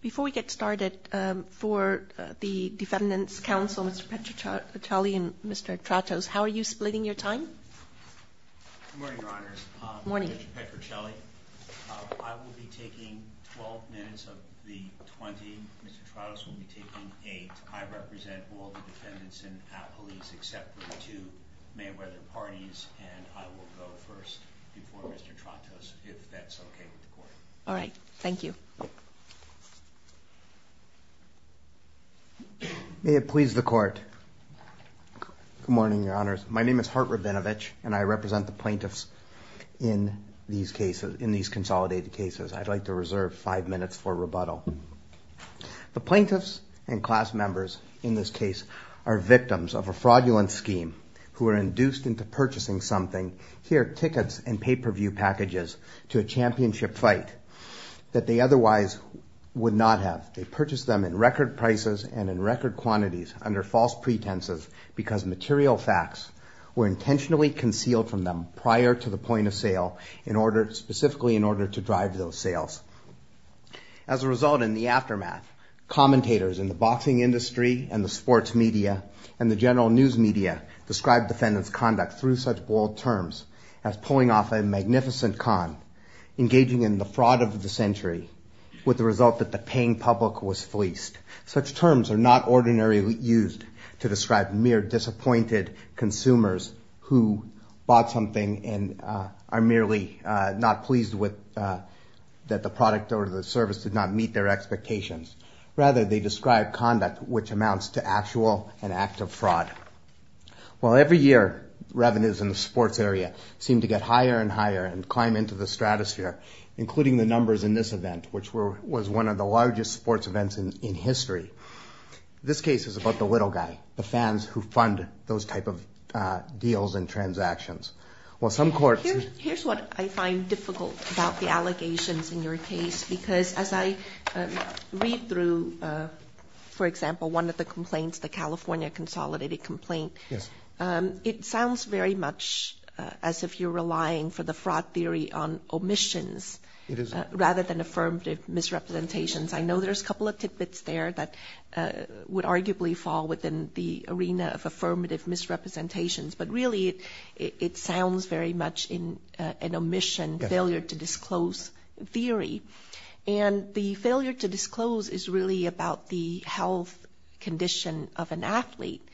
Before we get started, for the Defendants' Council, Mr. Petrocelli and Mr. Tratos, how are you splitting your time? Good morning, Your Honors. Good morning. Mr. Petrocelli, I will be taking 12 minutes of the 20, Mr. Tratos will be taking 8. I represent all the defendants and police except for the two Mayweather parties, and I will go first before Mr. Tratos, if that's okay with the Court. All right, thank you. May it please the Court. Good morning, Your Honors. My name is Hart Rabinovich, and I represent the plaintiffs in these consolidated cases. I'd like to reserve five minutes for rebuttal. The plaintiffs and class members in this case are victims of a fraudulent scheme who are induced into purchasing something, here tickets and pay-per-view packages, to a championship fight that they otherwise would not have. They purchased them in record prices and in record quantities under false pretenses because material facts were intentionally concealed from them prior to the point of sale, specifically in order to drive those sales. As a result, in the aftermath, commentators in the boxing industry and the sports media and the general news media describe defendants' conduct through such bold terms as pulling off a magnificent con, engaging in the fraud of the century, with the result that the paying public was fleeced. Such terms are not ordinarily used to describe mere disappointed consumers who bought something and are merely not pleased that the product or the service did not meet their expectations. Rather, they describe conduct which amounts to actual and active fraud. While every year revenues in the sports area seem to get higher and higher and climb into the stratosphere, including the numbers in this event, which was one of the largest sports events in history, this case is about the little guy, the fans who fund those type of deals and transactions. Well, some courts... Here's what I find difficult about the allegations in your case, because as I read through, for example, one of the complaints, the California Consolidated complaint, it sounds very much as if you're relying for the fraud theory on omissions rather than affirmative misrepresentations. I know there's a couple of tidbits there that would arguably fall within the arena of affirmative misrepresentations, but really it sounds very much an omission, failure-to-disclose theory. And the failure-to-disclose is really about the health condition of an athlete.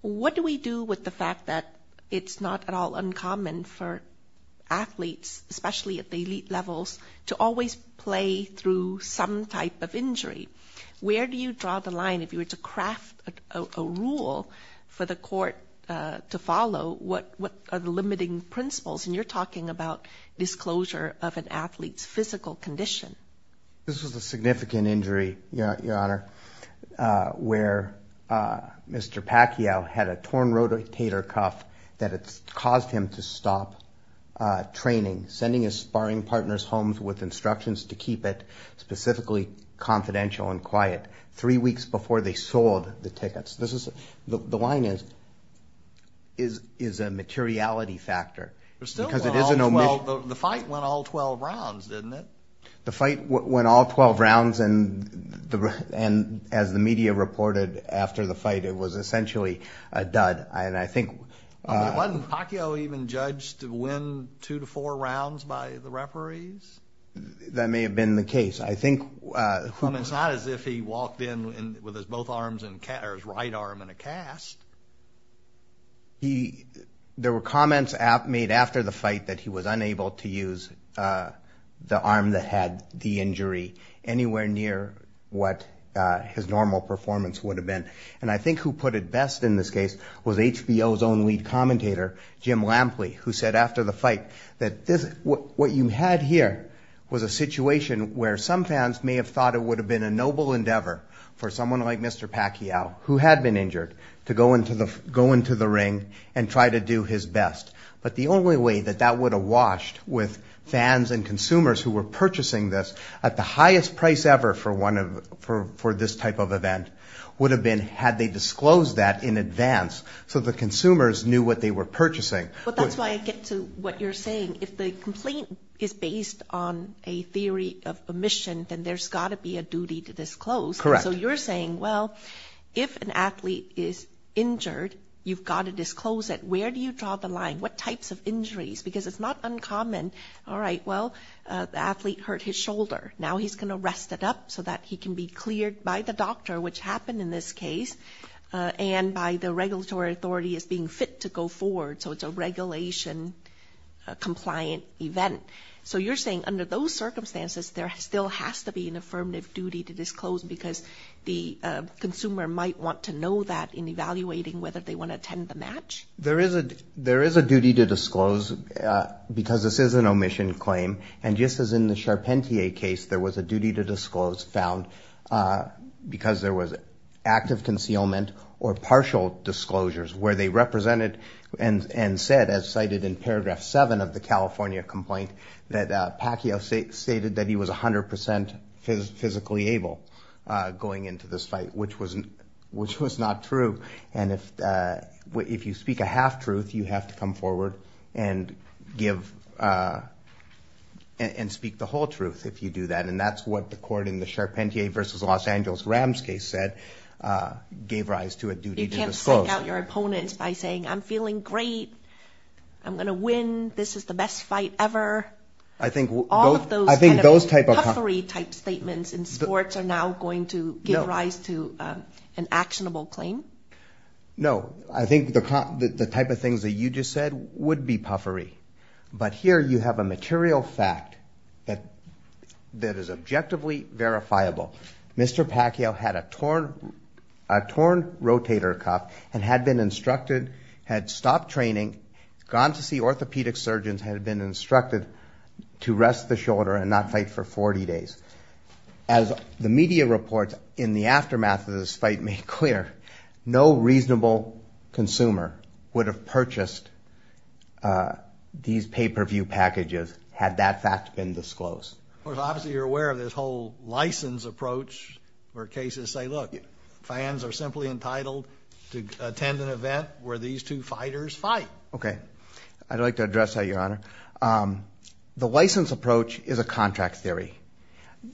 What do we do with the fact that it's not at all uncommon for athletes, especially at the elite levels, to always play through some type of injury? Where do you draw the line if you were to craft a rule for the court to follow? What are the limiting principles? And you're talking about disclosure of an athlete's physical condition. This was a significant injury, Your Honor, where Mr. Pacquiao had a torn rotator cuff that caused him to stop training, sending his sparring partners home with instructions to keep it specifically confidential and quiet three weeks before they sold the tickets. The line is a materiality factor because it is an omission. The fight went all 12 rounds, didn't it? The fight went all 12 rounds, and as the media reported after the fight, it was essentially a dud. Wasn't Pacquiao even judged to win two to four rounds by the referees? That may have been the case. It's not as if he walked in with his right arm in a cast. There were comments made after the fight that he was unable to use the arm that had the injury anywhere near what his normal performance would have been. And I think who put it best in this case was HBO's own lead commentator, Jim Lampley, who said after the fight that what you had here was a situation where some fans may have thought it would have been a noble endeavor for someone like Mr. Pacquiao, who had been injured, to go into the ring and try to do his best. But the only way that that would have washed with fans and consumers who were purchasing this at the highest price ever for this type of event would have been had they disclosed that in advance so the consumers knew what they were purchasing. But that's why I get to what you're saying. If the complaint is based on a theory of omission, then there's got to be a duty to disclose. Correct. So you're saying, well, if an athlete is injured, you've got to disclose it. Where do you draw the line? What types of injuries? Because it's not uncommon. All right, well, the athlete hurt his shoulder. Now he's going to rest it up so that he can be cleared by the doctor, which happened in this case, and by the regulatory authority as being fit to go forward. So it's a regulation-compliant event. So you're saying under those circumstances, there still has to be an affirmative duty to disclose because the consumer might want to know that in evaluating whether they want to attend the match? There is a duty to disclose because this is an omission claim. And just as in the Charpentier case, there was a duty to disclose found because there was active concealment or partial disclosures where they represented and said, as cited in Paragraph 7 of the California complaint, that Pacquiao stated that he was 100% physically able going into this fight, which was not true. And if you speak a half-truth, you have to come forward and give and speak the whole truth if you do that. And that's what the court in the Charpentier v. Los Angeles Rams case said gave rise to a duty to disclose. You can't psych out your opponents by saying, I'm feeling great, I'm going to win, this is the best fight ever. All of those kind of puffery type statements in sports are now going to give rise to an actionable claim? No, I think the type of things that you just said would be puffery. But here you have a material fact that is objectively verifiable. Mr. Pacquiao had a torn rotator cuff and had been instructed, had stopped training, gone to see orthopedic surgeons, had been instructed to rest the shoulder and not fight for 40 days. As the media reports in the aftermath of this fight made clear, no reasonable consumer would have purchased these pay-per-view packages had that fact been disclosed. Well, obviously you're aware of this whole license approach where cases say, look, fans are simply entitled to attend an event where these two fighters fight. I'd like to address that, Your Honor. The license approach is a contract theory.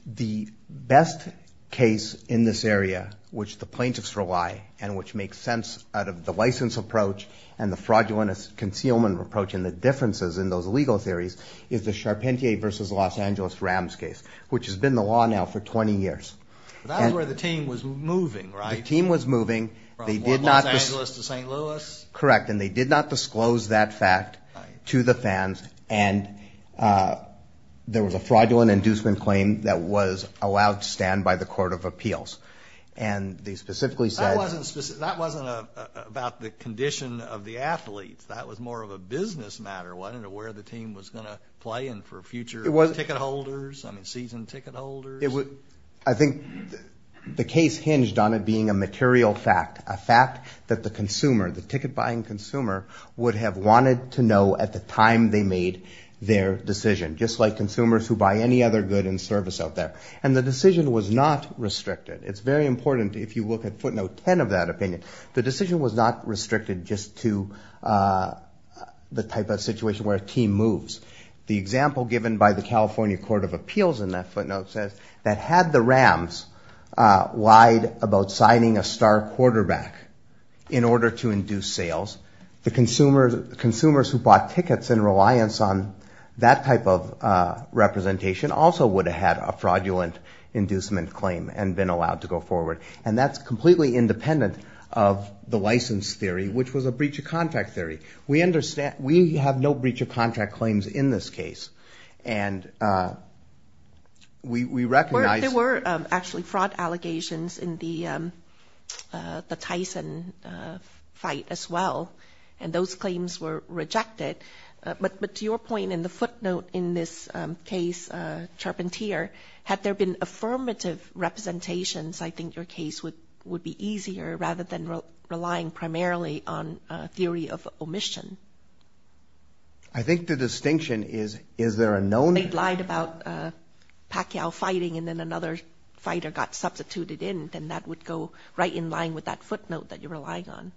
The best case in this area which the plaintiffs rely and which makes sense out of the license approach and the fraudulent concealment approach and the differences in those legal theories is the Charpentier v. Los Angeles Rams case, which has been the law now for 20 years. That's where the team was moving, right? The team was moving. From Los Angeles to St. Louis? Correct. And they did not disclose that fact to the fans. And there was a fraudulent inducement claim that was allowed to stand by the court of appeals. And they specifically said – That wasn't about the condition of the athletes. That was more of a business matter. I don't know where the team was going to play and for future ticket holders, season ticket holders. I think the case hinged on it being a material fact, a fact that the consumer, the ticket-buying consumer, would have wanted to know at the time they made their decision, just like consumers who buy any other good and service out there. And the decision was not restricted. It's very important if you look at footnote 10 of that opinion. The decision was not restricted just to the type of situation where a team moves. The example given by the California Court of Appeals in that footnote says that had the Rams lied about signing a star quarterback in order to induce sales, the consumers who bought tickets in reliance on that type of representation also would have had a fraudulent inducement claim and been allowed to go forward. And that's completely independent of the license theory, which was a breach of contract theory. We understand. We have no breach of contract claims in this case. And we recognize. There were actually fraud allegations in the Tyson fight as well. And those claims were rejected. But to your point in the footnote in this case, Charpentier, had there been affirmative representations, I think your case would be easier rather than relying primarily on a theory of omission. I think the distinction is, is there a known? They lied about Pacquiao fighting and then another fighter got substituted in, then that would go right in line with that footnote that you're relying on.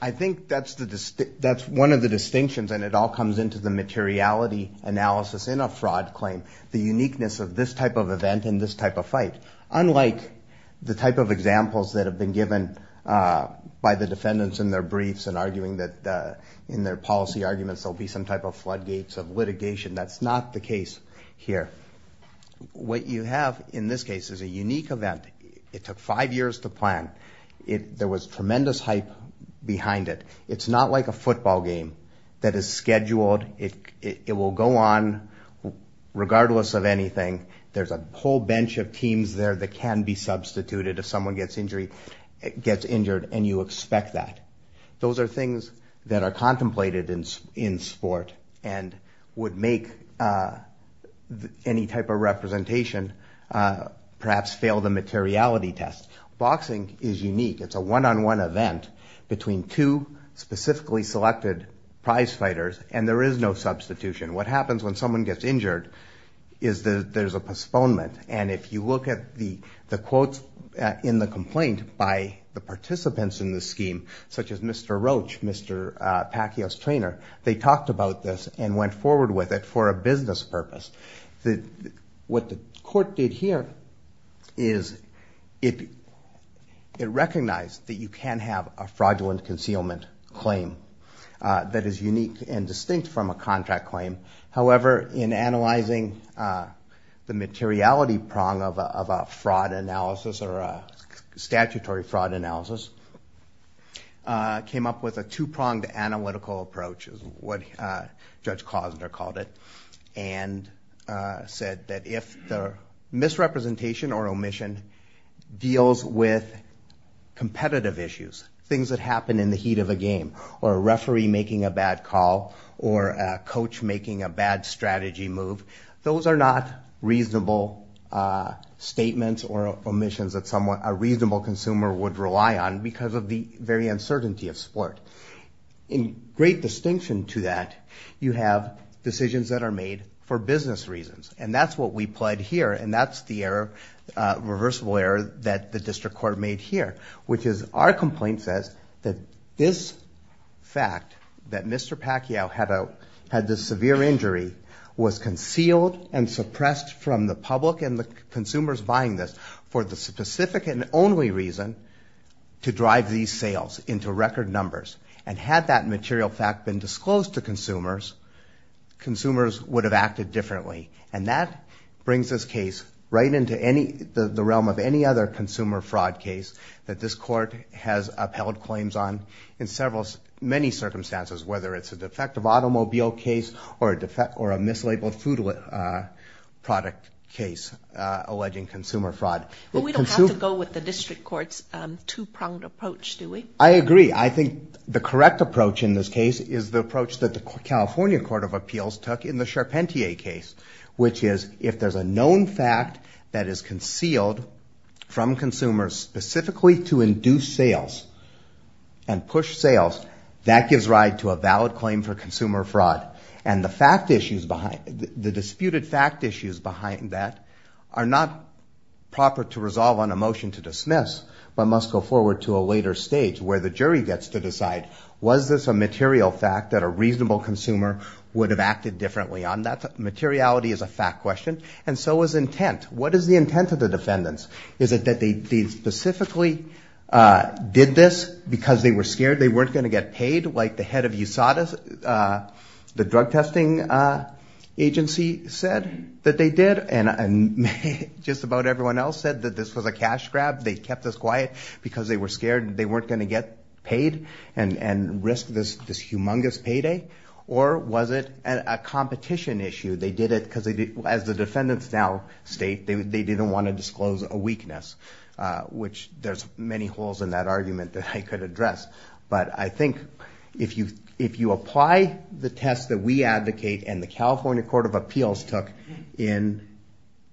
I think that's one of the distinctions, and it all comes into the materiality analysis in a fraud claim, the uniqueness of this type of event and this type of fight. Unlike the type of examples that have been given by the defendants in their briefs and arguing that in their policy arguments there will be some type of floodgates of litigation, that's not the case here. What you have in this case is a unique event. It took five years to plan. There was tremendous hype behind it. It's not like a football game that is scheduled. It will go on regardless of anything. There's a whole bench of teams there that can be substituted if someone gets injured, and you expect that. Those are things that are contemplated in sport and would make any type of representation perhaps fail the materiality test. Boxing is unique. It's a one-on-one event between two specifically selected prize fighters, and there is no substitution. What happens when someone gets injured is that there's a postponement, and if you look at the quotes in the complaint by the participants in the scheme, such as Mr. Roach, Mr. Pacquiao's trainer, they talked about this and went forward with it for a business purpose. What the court did here is it recognized that you can have a fraudulent concealment claim that is unique and distinct from a contract claim. However, in analyzing the materiality prong of a fraud analysis or a statutory fraud analysis, it came up with a two-pronged analytical approach, is what Judge Klausner called it, and said that if the misrepresentation or omission deals with competitive issues, things that happen in the heat of a game or a referee making a bad call or a coach making a bad strategy move, those are not reasonable statements or omissions that a reasonable consumer would rely on because of the very uncertainty of sport. In great distinction to that, you have decisions that are made for business reasons, and that's what we pled here, and that's the irreversible error that the district court made here, which is our complaint says that this fact, that Mr. Pacquiao had this severe injury, was concealed and suppressed from the public and the consumers buying this for the specific and only reason to drive these sales into record numbers. And had that material fact been disclosed to consumers, consumers would have acted differently. And that brings this case right into the realm of any other consumer fraud case that this court has upheld claims on in many circumstances, whether it's a defective automobile case or a mislabeled food product case alleging consumer fraud. Well, we don't have to go with the district court's two-pronged approach, do we? I agree. I think the correct approach in this case is the approach that the California Court of Appeals took in the Charpentier case, which is if there's a known fact that is concealed from consumers specifically to induce sales and push sales, that gives ride to a valid claim for consumer fraud. And the disputed fact issues behind that are not proper to resolve on a motion to dismiss but must go forward to a later stage where the jury gets to decide, was this a material fact that a reasonable consumer would have acted differently on? Materiality is a fact question. And so is intent. What is the intent of the defendants? Is it that they specifically did this because they were scared they weren't going to get paid like the head of USADA, the drug testing agency, said that they did? And just about everyone else said that this was a cash grab, they kept us quiet because they were scared they weren't going to get paid and risk this humongous payday? Or was it a competition issue? They did it because, as the defendants now state, they didn't want to disclose a weakness, which there's many holes in that argument that I could address. But I think if you apply the test that we advocate and the California Court of Appeals took in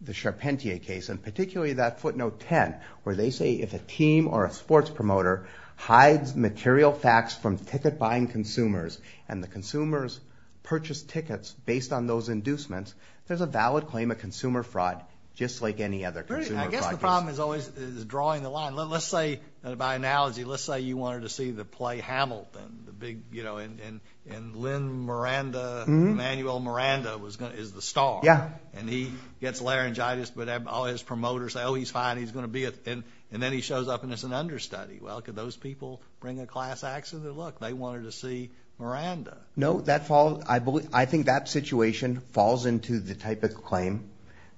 the Charpentier case, and particularly that footnote 10 where they say if a team or a sports promoter hides material facts from ticket-buying consumers and the consumers purchase tickets based on those inducements, there's a valid claim of consumer fraud, just like any other consumer fraud case. I guess the problem is always drawing the line. Let's say, by analogy, let's say you wanted to see the play Hamilton, the big, you know, and Lin Miranda, Emanuel Miranda, is the star. Yeah. And he gets laryngitis, but all his promoters say, oh, he's fine, he's going to be it. And then he shows up and it's an understudy. Well, could those people bring a class accident? Look, they wanted to see Miranda. No, I think that situation falls into the type of claim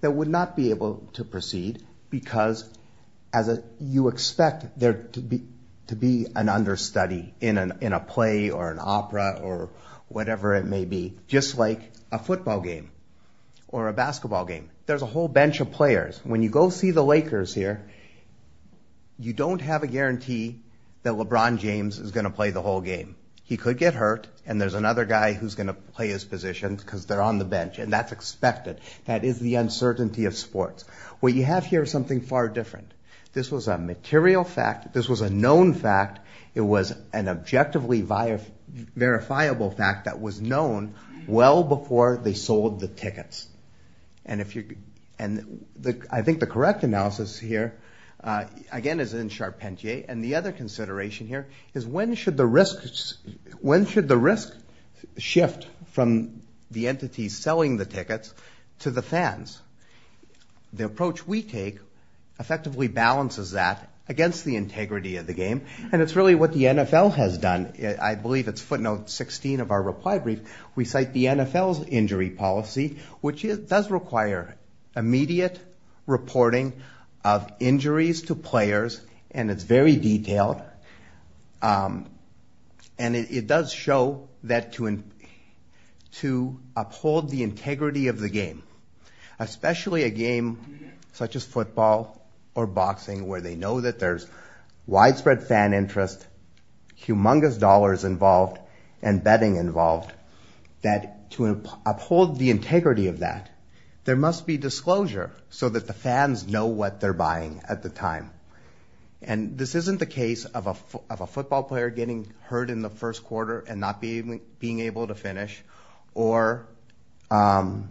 that would not be able to proceed because you expect there to be an understudy in a play or an opera or whatever it may be, just like a football game or a basketball game. There's a whole bench of players. When you go see the Lakers here, you don't have a guarantee that LeBron James is going to play the whole game. He could get hurt, and there's another guy who's going to play his position because they're on the bench, and that's expected. That is the uncertainty of sports. What you have here is something far different. This was a material fact. This was a known fact. It was an objectively verifiable fact that was known well before they sold the tickets. And I think the correct analysis here, again, is in Charpentier. And the other consideration here is when should the risk shift from the entities selling the tickets to the fans? The approach we take effectively balances that against the integrity of the game, and it's really what the NFL has done. I believe it's footnote 16 of our reply brief. We cite the NFL's injury policy, which does require immediate reporting of injuries to players, and it's very detailed, and it does show that to uphold the integrity of the game, especially a game such as football or boxing where they know that there's widespread fan interest, humongous dollars involved, and betting involved, that to uphold the integrity of that, there must be disclosure so that the fans know what they're buying at the time. And this isn't the case of a football player getting hurt in the first quarter and not being able to finish or a bad call.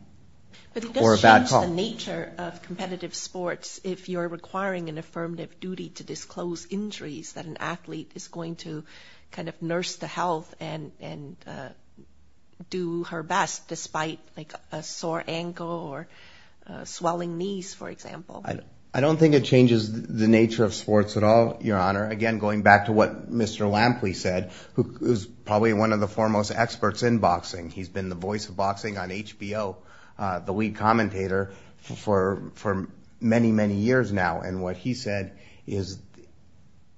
But it does change the nature of competitive sports if you're requiring an affirmative duty to disclose injuries that an athlete is going to kind of nurse the health and do her best despite, like, a sore ankle or swelling knees, for example. I don't think it changes the nature of sports at all, Your Honor. Again, going back to what Mr. Lampley said, who is probably one of the foremost experts in boxing. He's been the voice of boxing on HBO, the lead commentator, for many, many years now. And what he said is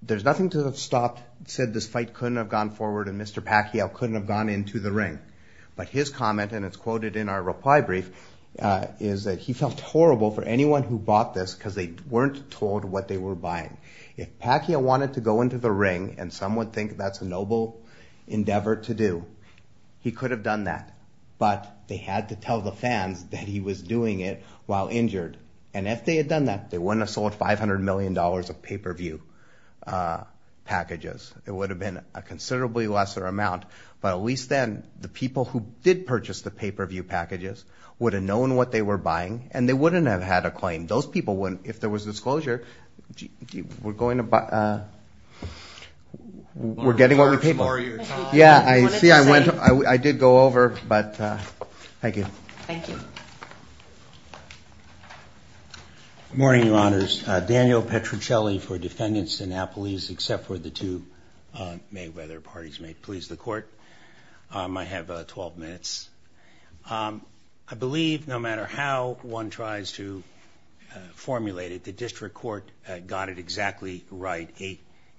there's nothing to have stopped, said this fight couldn't have gone forward and Mr. Pacquiao couldn't have gone into the ring. But his comment, and it's quoted in our reply brief, is that he felt horrible for anyone who bought this because they weren't told what they were buying. If Pacquiao wanted to go into the ring, and some would think that's a noble endeavor to do, he could have done that. But they had to tell the fans that he was doing it while injured. And if they had done that, they wouldn't have sold $500 million of pay-per-view packages. It would have been a considerably lesser amount. But at least then the people who did purchase the pay-per-view packages would have known what they were buying and they wouldn't have had a claim. Those people wouldn't. If there was disclosure, we're getting what we paid for. Yeah, I see. I did go over, but thank you. Thank you. Good morning, Your Honors. Daniel Petruccelli for Defendant Sinopolis, except for the two Mayweather parties. May it please the Court. I have 12 minutes. I believe no matter how one tries to formulate it, the District Court got it exactly right.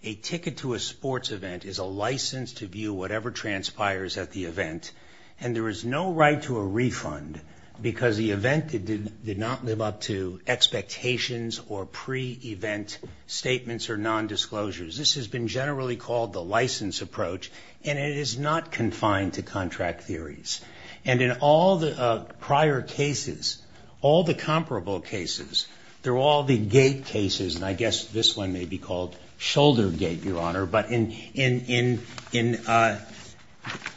A ticket to a sports event is a license to view whatever transpires at the event, and there is no right to a refund because the event did not live up to expectations or pre-event statements or nondisclosures. This has been generally called the license approach, and it is not confined to contract theories. And in all the prior cases, all the comparable cases, they're all the gate cases, and I guess this one may be called shoulder gate, Your Honor. But in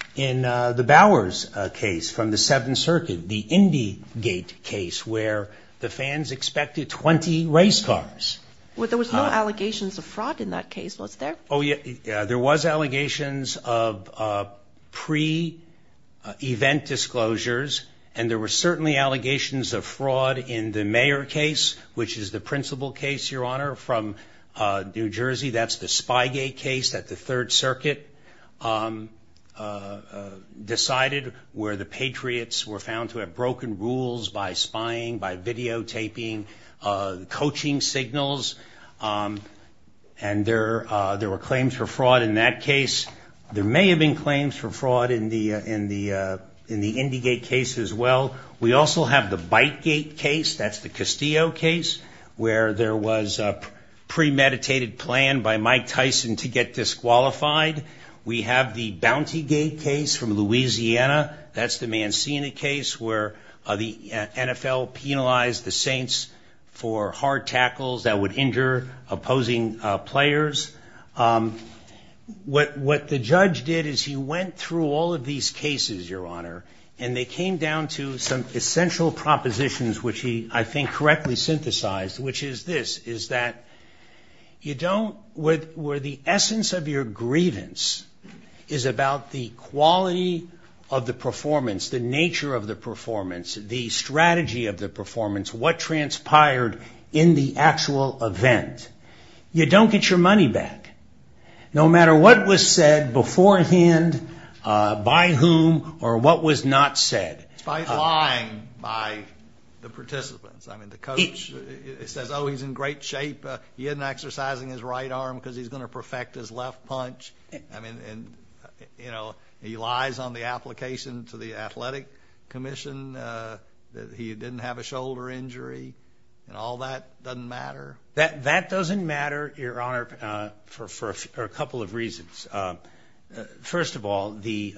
the Bowers case from the Seventh Circuit, the Indy gate case, where the fans expected 20 race cars. Well, there was no allegations of fraud in that case, was there? Oh, yeah, there was allegations of pre-event disclosures, and there were certainly allegations of fraud in the Mayer case, which is the principal case, Your Honor, from New Jersey. That's the spy gate case that the Third Circuit decided where the patriots were found to have broken rules by spying, by videotaping, coaching signals. And there were claims for fraud in that case. There may have been claims for fraud in the Indy gate case as well. We also have the bite gate case, that's the Castillo case, where there was a premeditated plan by Mike Tyson to get disqualified. We have the bounty gate case from Louisiana, that's the Mancini case, where the NFL penalized the Saints for hard tackles that would injure opposing players. What the judge did is he went through all of these cases, Your Honor, and they came down to some essential propositions, which he, I think, correctly synthesized, which is this, is that you don't, where the essence of your grievance is about the quality of the performance, the nature of the performance, the strategy of the performance, what transpired in the actual event. You don't get your money back, no matter what was said beforehand, by whom, or what was not said. It's by lying by the participants. I mean, the coach says, oh, he's in great shape. He isn't exercising his right arm because he's going to perfect his left punch. I mean, you know, he lies on the application to the Athletic Commission that he didn't have a shoulder injury, and all that doesn't matter. That doesn't matter, Your Honor, for a couple of reasons. First of all, the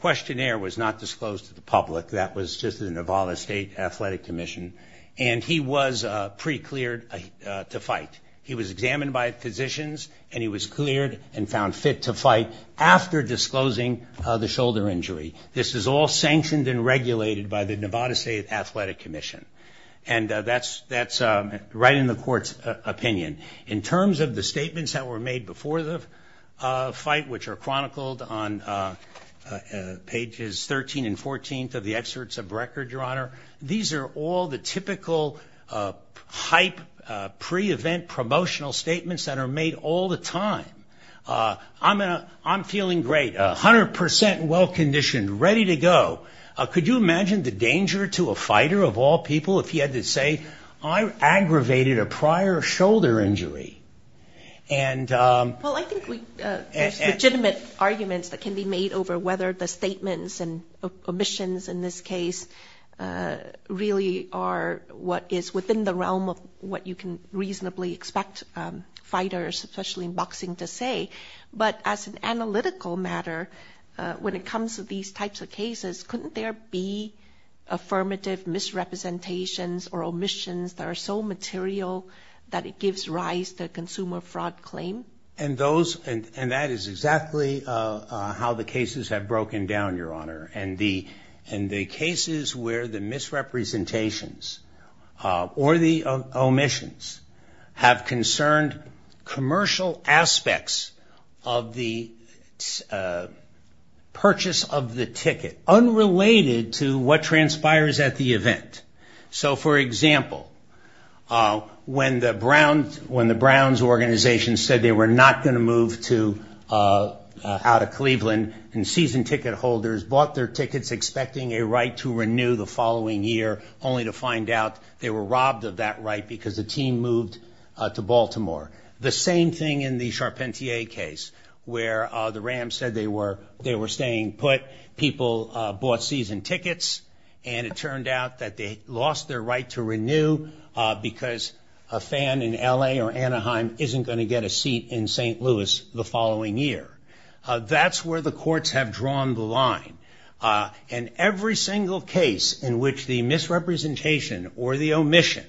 questionnaire was not disclosed to the public. That was just the Nevada State Athletic Commission, and he was pre-cleared to fight. He was examined by physicians, and he was cleared and found fit to fight after disclosing the shoulder injury. This is all sanctioned and regulated by the Nevada State Athletic Commission, and that's right in the court's opinion. In terms of the statements that were made before the fight, which are chronicled on pages 13 and 14 of the excerpts of record, Your Honor, these are all the typical hype, pre-event promotional statements that are made all the time. I'm feeling great, 100 percent well-conditioned, ready to go. Could you imagine the danger to a fighter of all people if he had to say, I aggravated a prior shoulder injury? Well, I think there's legitimate arguments that can be made over whether the statements and omissions in this case really are what is within the realm of what you can reasonably expect fighters, especially in boxing, to say. But as an analytical matter, when it comes to these types of cases, couldn't there be affirmative misrepresentations or omissions that are so material that it gives rise to a consumer fraud claim? And that is exactly how the cases have broken down, Your Honor. And the cases where the misrepresentations or the omissions have concerned commercial aspects of the purchase of the ticket, unrelated to what transpires at the event. So, for example, when the Browns organization said they were not going to move out of Cleveland and season ticket holders bought their tickets expecting a right to renew the following year, only to find out they were robbed of that right because the team moved to Baltimore. The same thing in the Charpentier case, where the Rams said they were staying put, people bought season tickets, and it turned out that they lost their right to renew because a fan in L.A. or Anaheim isn't going to get a seat in St. Louis the following year. That's where the courts have drawn the line. And every single case in which the misrepresentation or the omission,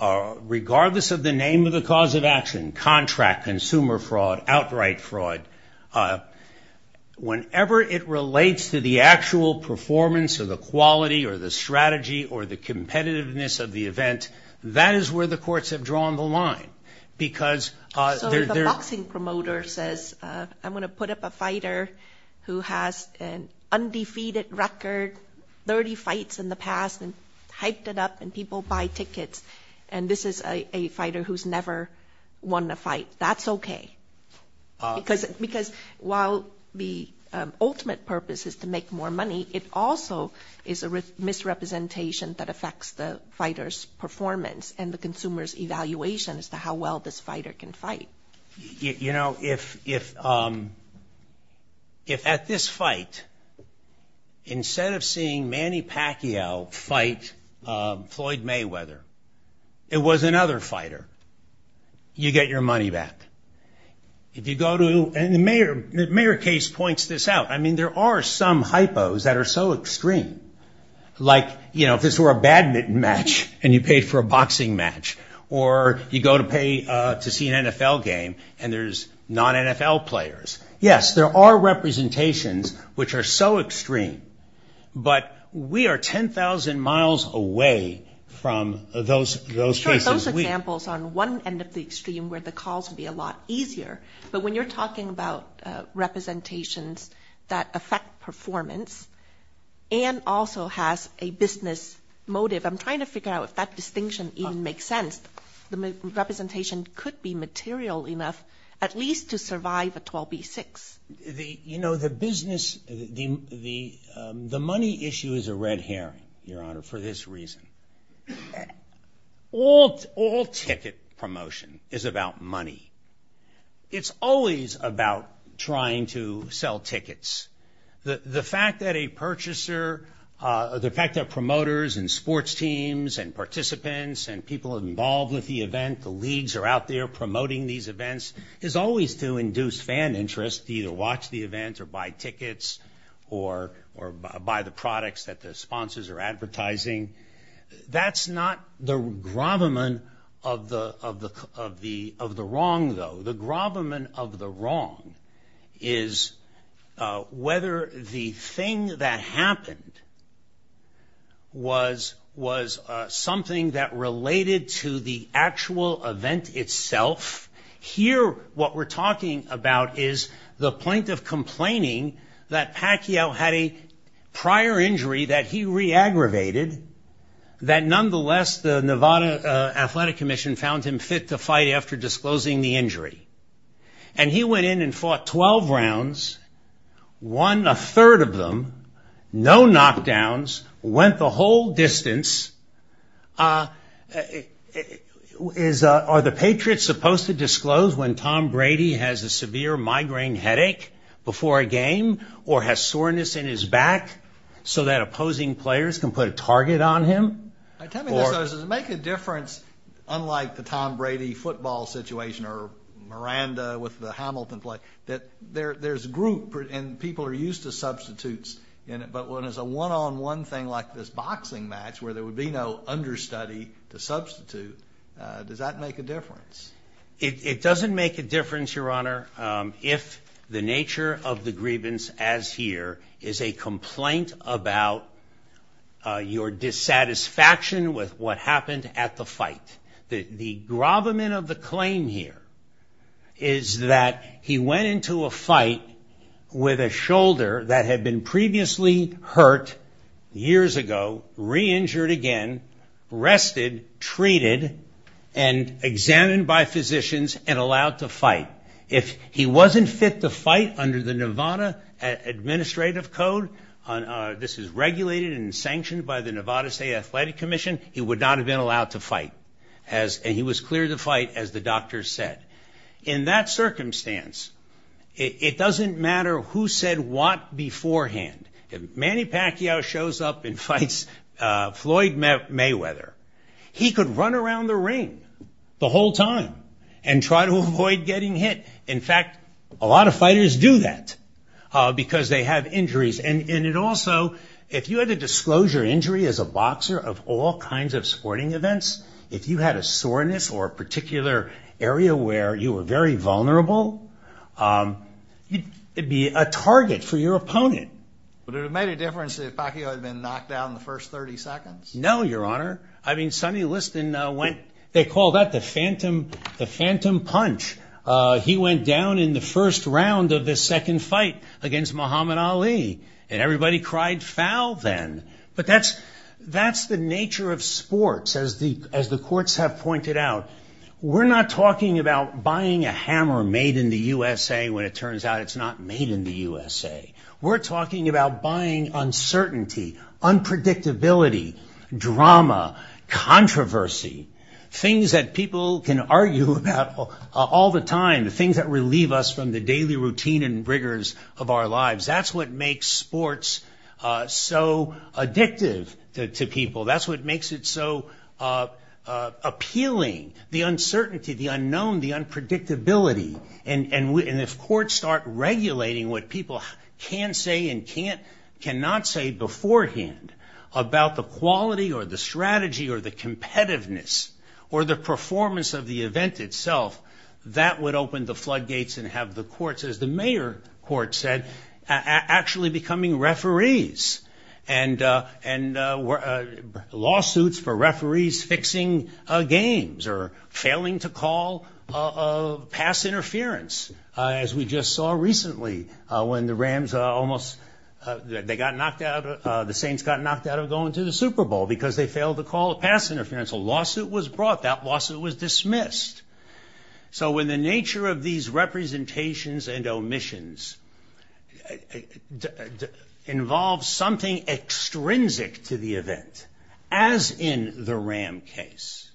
regardless of the name of the cause of action, contract, consumer fraud, outright fraud, whenever it relates to the actual performance or the quality or the strategy or the competitiveness of the event, So if a boxing promoter says, I'm going to put up a fighter who has an undefeated record, 30 fights in the past, and hyped it up, and people buy tickets, and this is a fighter who's never won a fight, that's okay. Because while the ultimate purpose is to make more money, it also is a misrepresentation that affects the fighter's performance and the consumer's evaluation as to how well this fighter can fight. You know, if at this fight, instead of seeing Manny Pacquiao fight Floyd Mayweather, it was another fighter, you get your money back. And the Mayer case points this out. I mean, there are some hypos that are so extreme, like, you know, if it's for a badminton match and you paid for a boxing match, or you go to see an NFL game and there's non-NFL players. Yes, there are representations which are so extreme, but we are 10,000 miles away from those cases. Sure, those examples on one end of the extreme where the calls would be a lot easier, but when you're talking about representations that affect performance and also has a business motive, I'm trying to figure out if that distinction even makes sense. The representation could be material enough at least to survive a 12b-6. You know, the business, the money issue is a red herring, Your Honor, for this reason. All ticket promotion is about money. It's always about trying to sell tickets. The fact that a purchaser, the fact that promoters and sports teams and participants and people involved with the event, the leagues are out there promoting these events, is always to induce fan interest to either watch the event or buy tickets or buy the products that the sponsors are advertising. That's not the gravamen of the wrong, though. The gravamen of the wrong is whether the thing that happened was something that related to the actual event itself. Here, what we're talking about is the point of complaining that Pacquiao had a prior injury that he re-aggravated, that nonetheless the Nevada Athletic Commission found him fit to fight after disclosing the injury. And he went in and fought 12 rounds, won a third of them, no knockdowns, went the whole distance. Are the Patriots supposed to disclose when Tom Brady has a severe migraine headache before a game or has soreness in his back so that opposing players can put a target on him? Does it make a difference, unlike the Tom Brady football situation or Miranda with the Hamilton play, that there's a group and people are used to substitutes in it, but when it's a one-on-one thing like this boxing match where there would be no understudy to substitute, does that make a difference? It doesn't make a difference, Your Honor, if the nature of the grievance, as here, is a complaint about your dissatisfaction with what happened at the fight. The gravamen of the claim here is that he went into a fight with a shoulder that had been previously hurt years ago, re-injured again, rested, treated, and examined by physicians and allowed to fight. If he wasn't fit to fight under the Nevada Administrative Code, this is regulated and sanctioned by the Nevada State Athletic Commission, he would not have been allowed to fight. And he was clear to fight, as the doctors said. In that circumstance, it doesn't matter who said what beforehand. If Manny Pacquiao shows up and fights Floyd Mayweather, he could run around the ring the whole time and try to avoid getting hit. In fact, a lot of fighters do that because they have injuries. And also, if you had a disclosure injury as a boxer of all kinds of sporting events, if you had a soreness or a particular area where you were very vulnerable, it would be a target for your opponent. Would it have made a difference if Pacquiao had been knocked down in the first 30 seconds? No, Your Honor. I mean, Sonny Liston went, they call that the phantom punch. He went down in the first round of the second fight against Muhammad Ali, and everybody cried foul then. But that's the nature of sports, as the courts have pointed out. We're not talking about buying a hammer made in the U.S.A. when it turns out it's not made in the U.S.A. We're talking about buying uncertainty, unpredictability, drama, controversy, things that people can argue about all the time, things that relieve us from the daily routine and rigors of our lives. That's what makes sports so addictive to people. That's what makes it so appealing, the uncertainty, the unknown, the unpredictability. And if courts start regulating what people can say and cannot say beforehand about the quality or the strategy or the competitiveness or the performance of the event itself, that would open the floodgates and have the courts, as the mayor court said, actually becoming referees. And lawsuits for referees fixing games or failing to call a pass interference, as we just saw recently when the Rams almost, they got knocked out, the Saints got knocked out of going to the Super Bowl because they failed to call a pass interference. A lawsuit was brought. That lawsuit was dismissed. So when the nature of these representations and omissions involves something extrinsic to the event, as in the Ram case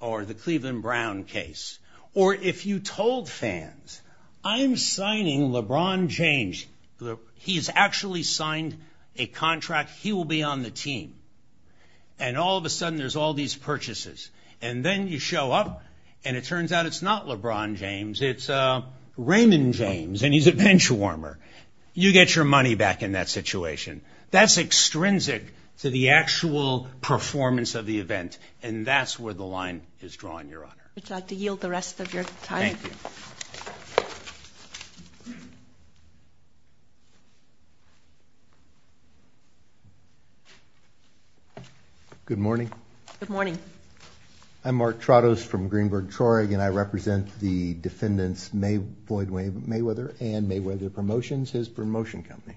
or the Cleveland Brown case, or if you told fans, I'm signing LeBron James, he's actually signed a contract, he will be on the team. And all of a sudden there's all these purchases. And then you show up and it turns out it's not LeBron James, it's Raymond James, and he's a benchwarmer. You get your money back in that situation. That's extrinsic to the actual performance of the event, and that's where the line is drawn, Your Honor. I'd like to yield the rest of your time. Thank you. Good morning. Good morning. I'm Mark Tratos from Greenberg-Trorig, and I represent the defendants Boyd Mayweather and Mayweather Promotions, his promotion company.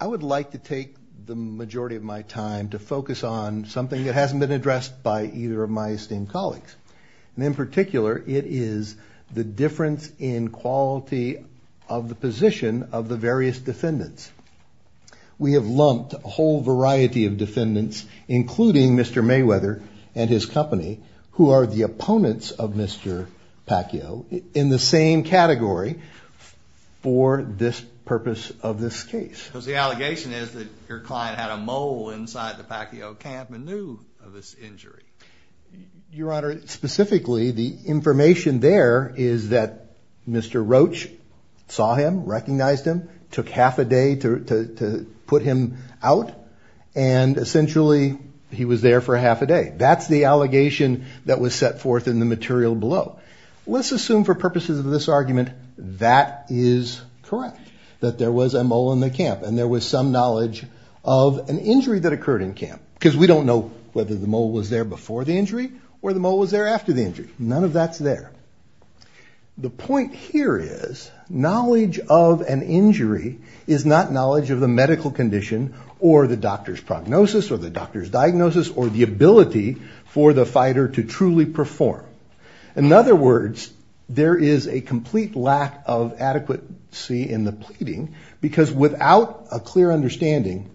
I would like to take the majority of my time to focus on something that hasn't been addressed by either of my esteemed colleagues. And in particular, it is the difference in quality of the position of the various defendants. We have lumped a whole variety of defendants, including Mr. Mayweather and his company, who are the opponents of Mr. Pacquiao in the same category for this purpose of this case. Because the allegation is that your client had a mole inside the Pacquiao camp and knew of this injury. Your Honor, specifically, the information there is that Mr. Roach saw him, recognized him, took half a day to put him out, and essentially he was there for half a day. That's the allegation that was set forth in the material below. Let's assume for purposes of this argument that is correct, that there was a mole in the camp, and there was some knowledge of an injury that occurred in camp. Because we don't know whether the mole was there before the injury or the mole was there after the injury. None of that's there. The point here is, knowledge of an injury is not knowledge of the medical condition, or the doctor's prognosis, or the doctor's diagnosis, or the ability for the fighter to truly perform. In other words, there is a complete lack of adequacy in the pleading, because without a clear understanding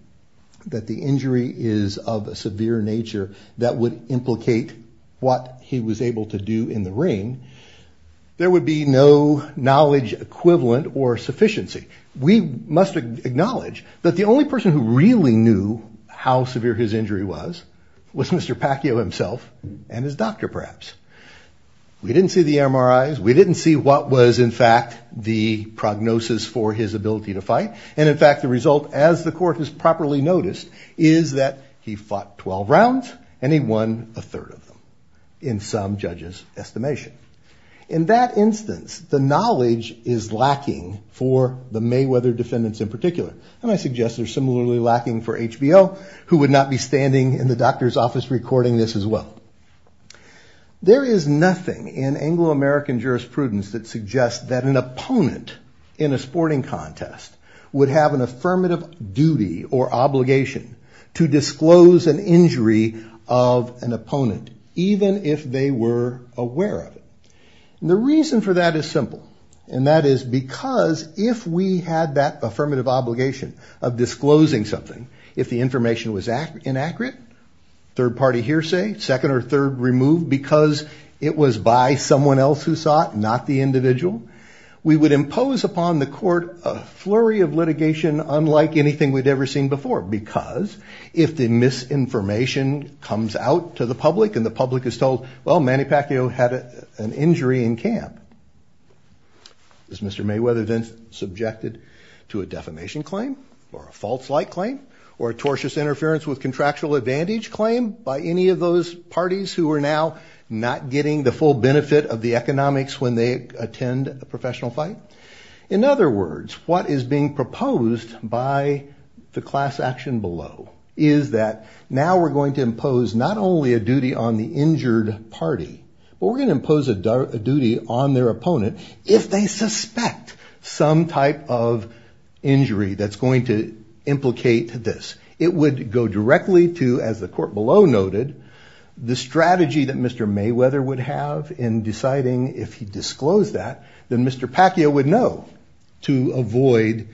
that the injury is of a severe nature that would implicate what he was able to do in the ring, there would be no knowledge equivalent or sufficiency. We must acknowledge that the only person who really knew how severe his injury was, was Mr. Pacquiao himself and his doctor, perhaps. We didn't see the MRIs. We didn't see what was, in fact, the prognosis for his ability to fight. And in fact, the result, as the court has properly noticed, is that he fought 12 rounds, and he won a third of them, in some judges' estimation. In that instance, the knowledge is lacking for the Mayweather defendants in particular. And I suggest they're similarly lacking for HBO, who would not be standing in the doctor's office recording this as well. There is nothing in Anglo-American jurisprudence that suggests that an opponent in a sporting contest would have an affirmative duty or obligation to disclose an injury of an opponent, even if they were aware of it. And the reason for that is simple. And that is because if we had that affirmative obligation of disclosing something, if the information was inaccurate, third-party hearsay, second or third removed, because it was by someone else who saw it, not the individual, we would impose upon the court a flurry of litigation unlike anything we'd ever seen before. Because if the misinformation comes out to the public, and the public is told, well, Manny Pacquiao had an injury in camp, is Mr. Mayweather then subjected to a defamation claim, or a false light claim, or a tortious interference with contractual advantage claim by any of those parties who are now not getting the full benefit of the economics when they attend a professional fight? In other words, what is being proposed by the class action below is that now we're going to impose not only a duty on the injured party, but we're going to impose a duty on their opponent if they suspect some type of injury that's going to implicate this. It would go directly to, as the court below noted, the strategy that Mr. Mayweather would have in deciding if he disclosed that, then Mr. Pacquiao would know to avoid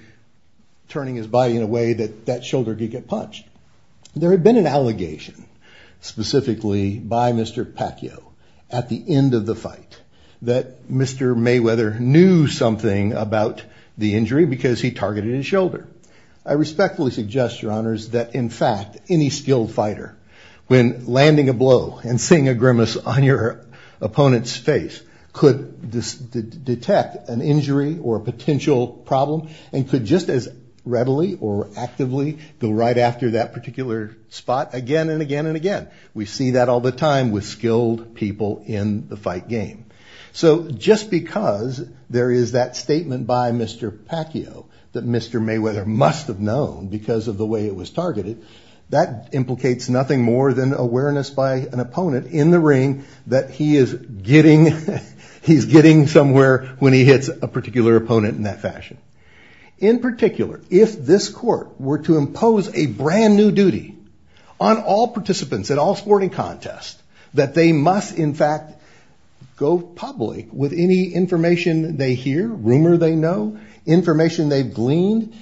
turning his body in a way that that shoulder could get punched. There had been an allegation, specifically by Mr. Pacquiao, at the end of the fight, that Mr. Mayweather knew something about the injury because he targeted his shoulder. I respectfully suggest, Your Honors, that in fact any skilled fighter, when landing a blow and seeing a grimace on your opponent's face, could detect an injury or a potential problem and could just as readily or actively go right after that particular spot again and again and again. We see that all the time with skilled people in the fight game. Just because there is that statement by Mr. Pacquiao that Mr. Mayweather must have known because of the way it was targeted, that implicates nothing more than awareness by an opponent in the ring that he is getting somewhere when he hits a particular opponent in that fashion. In particular, if this court were to impose a brand new duty on all participants at all sporting contests, that they must in fact go public with any information they hear, rumor they know, information they've gleaned,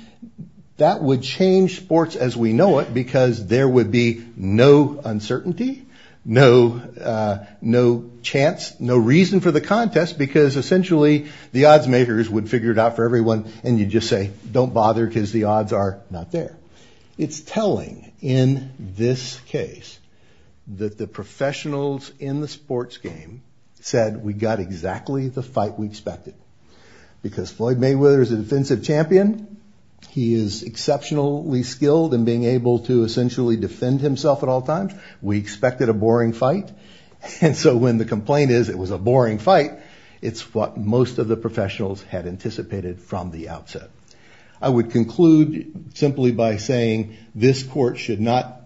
that would change sports as we know it because there would be no uncertainty, no chance, no reason for the contest because essentially the odds makers would figure it out for everyone and you'd just say, don't bother because the odds are not there. It's telling in this case that the professionals in the sports game said we got exactly the fight we expected because Floyd Mayweather is a defensive champion. He is exceptionally skilled in being able to essentially defend himself at all times. We expected a boring fight and so when the complaint is it was a boring fight, it's what most of the professionals had anticipated from the outset. I would conclude simply by saying this court should not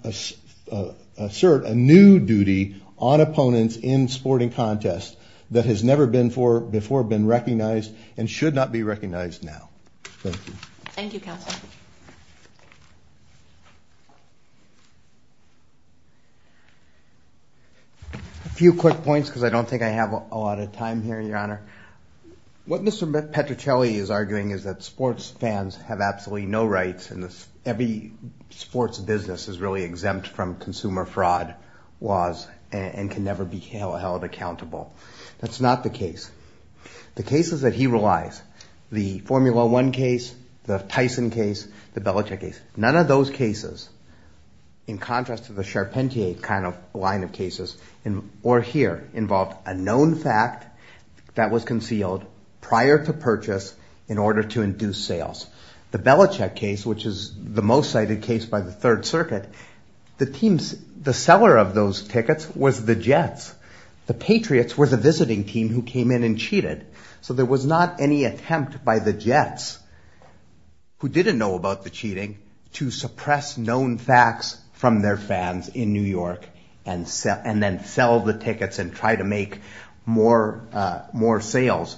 assert a new duty on opponents in sporting contests that has never before been recognized and should not be recognized now. Thank you. Thank you, Counsel. A few quick points because I don't think I have a lot of time here, Your Honor. What Mr. Petruccelli is arguing is that sports fans have absolutely no rights and every sports business is really exempt from consumer fraud laws and can never be held accountable. That's not the case. The cases that he relies, the Formula One case, the Tyson case, the Belichick case, none of those cases in contrast to the Charpentier kind of line of cases or here involved a known fact that was concealed prior to purchase in order to induce sales. The Belichick case, which is the most cited case by the Third Circuit, the seller of those tickets was the Jets. The Patriots were the visiting team who came in and cheated. So there was not any attempt by the Jets, who didn't know about the cheating, to suppress known facts from their fans in New York and then sell the tickets and try to make more sales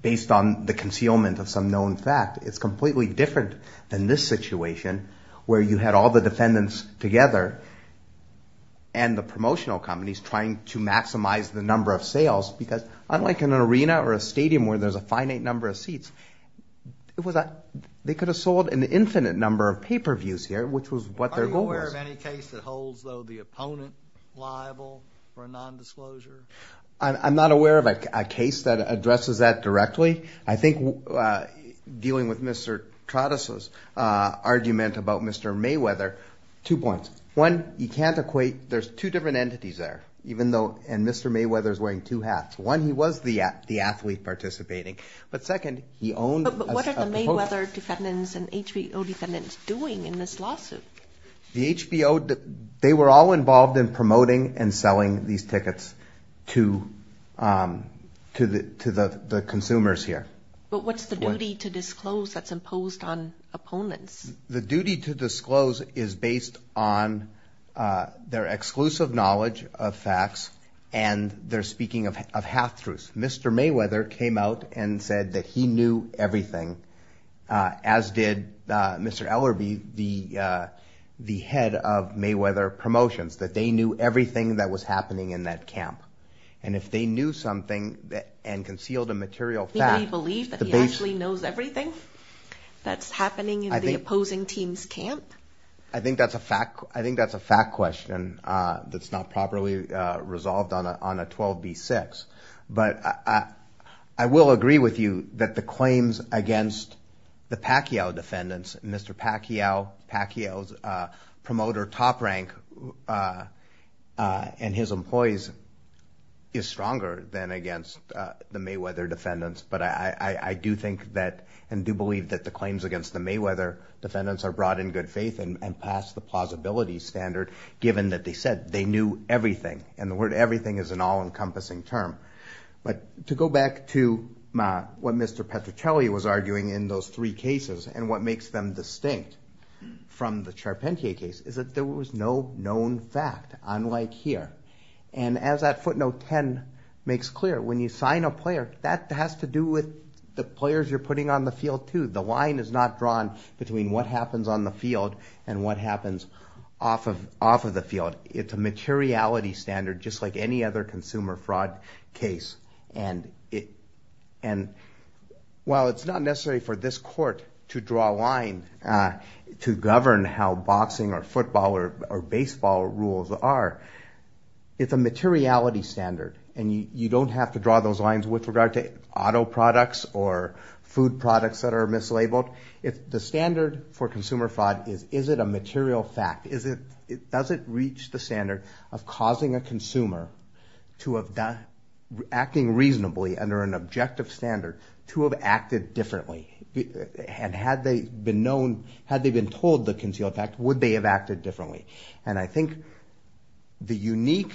based on the concealment of some known fact. It's completely different than this situation where you had all the defendants together and the promotional companies trying to maximize the number of sales because unlike in an arena or a stadium where there's a finite number of seats, they could have sold an infinite number of pay-per-views here, which was what their goal was. Are you aware of any case that holds, though, the opponent liable for a nondisclosure? I'm not aware of a case that addresses that directly. I think dealing with Mr. Trotter's argument about Mr. Mayweather, two points. One, you can't equate. There's two different entities there, and Mr. Mayweather is wearing two hats. One, he was the athlete participating, but second, he owned a proposal. But what are the Mayweather defendants and HBO defendants doing in this lawsuit? The HBO, they were all involved in promoting and selling these tickets to the consumers here. But what's the duty to disclose that's imposed on opponents? The duty to disclose is based on their exclusive knowledge of facts and their speaking of half-truths. Mr. Mayweather came out and said that he knew everything, as did Mr. Ellerbee, the head of Mayweather Promotions, that they knew everything that was happening in that camp. And if they knew something and concealed a material fact, does anybody believe that he actually knows everything that's happening in the opposing team's camp? I think that's a fact question that's not properly resolved on a 12b6. But I will agree with you that the claims against the Pacquiao defendants, Mr. Pacquiao, Pacquiao's promoter top rank and his employees, is stronger than against the Mayweather defendants. But I do think that and do believe that the claims against the Mayweather defendants are brought in good faith and past the plausibility standard, given that they said they knew everything. And the word everything is an all-encompassing term. But to go back to what Mr. Petruccelli was arguing in those three cases and what makes them distinct from the Charpentier case is that there was no known fact, unlike here. And as that footnote 10 makes clear, when you sign a player, that has to do with the players you're putting on the field, too. The line is not drawn between what happens on the field and what happens off of the field. It's a materiality standard, just like any other consumer fraud case. And while it's not necessary for this court to draw a line to govern how boxing or football or baseball rules are, it's a materiality standard, and you don't have to draw those lines with regard to auto products or food products that are mislabeled. The standard for consumer fraud is, is it a material fact? Does it reach the standard of causing a consumer to have done, acting reasonably under an objective standard, to have acted differently? And had they been known, had they been told the concealed fact, would they have acted differently? And I think the unique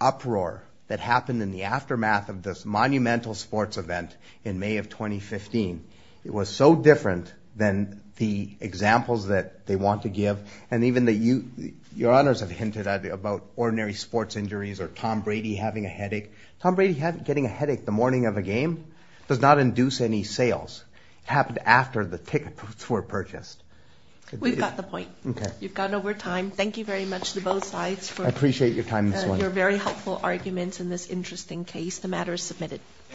uproar that happened in the aftermath of this monumental sports event in May of 2015, it was so different than the examples that they want to give. And even that you, Your Honors, have hinted at about ordinary sports injuries or Tom Brady having a headache. Tom Brady getting a headache the morning of a game does not induce any sales. It happened after the ticket booths were purchased. We've got the point. You've gone over time. Thank you very much to both sides for your very helpful arguments in this interesting case. The matter is submitted.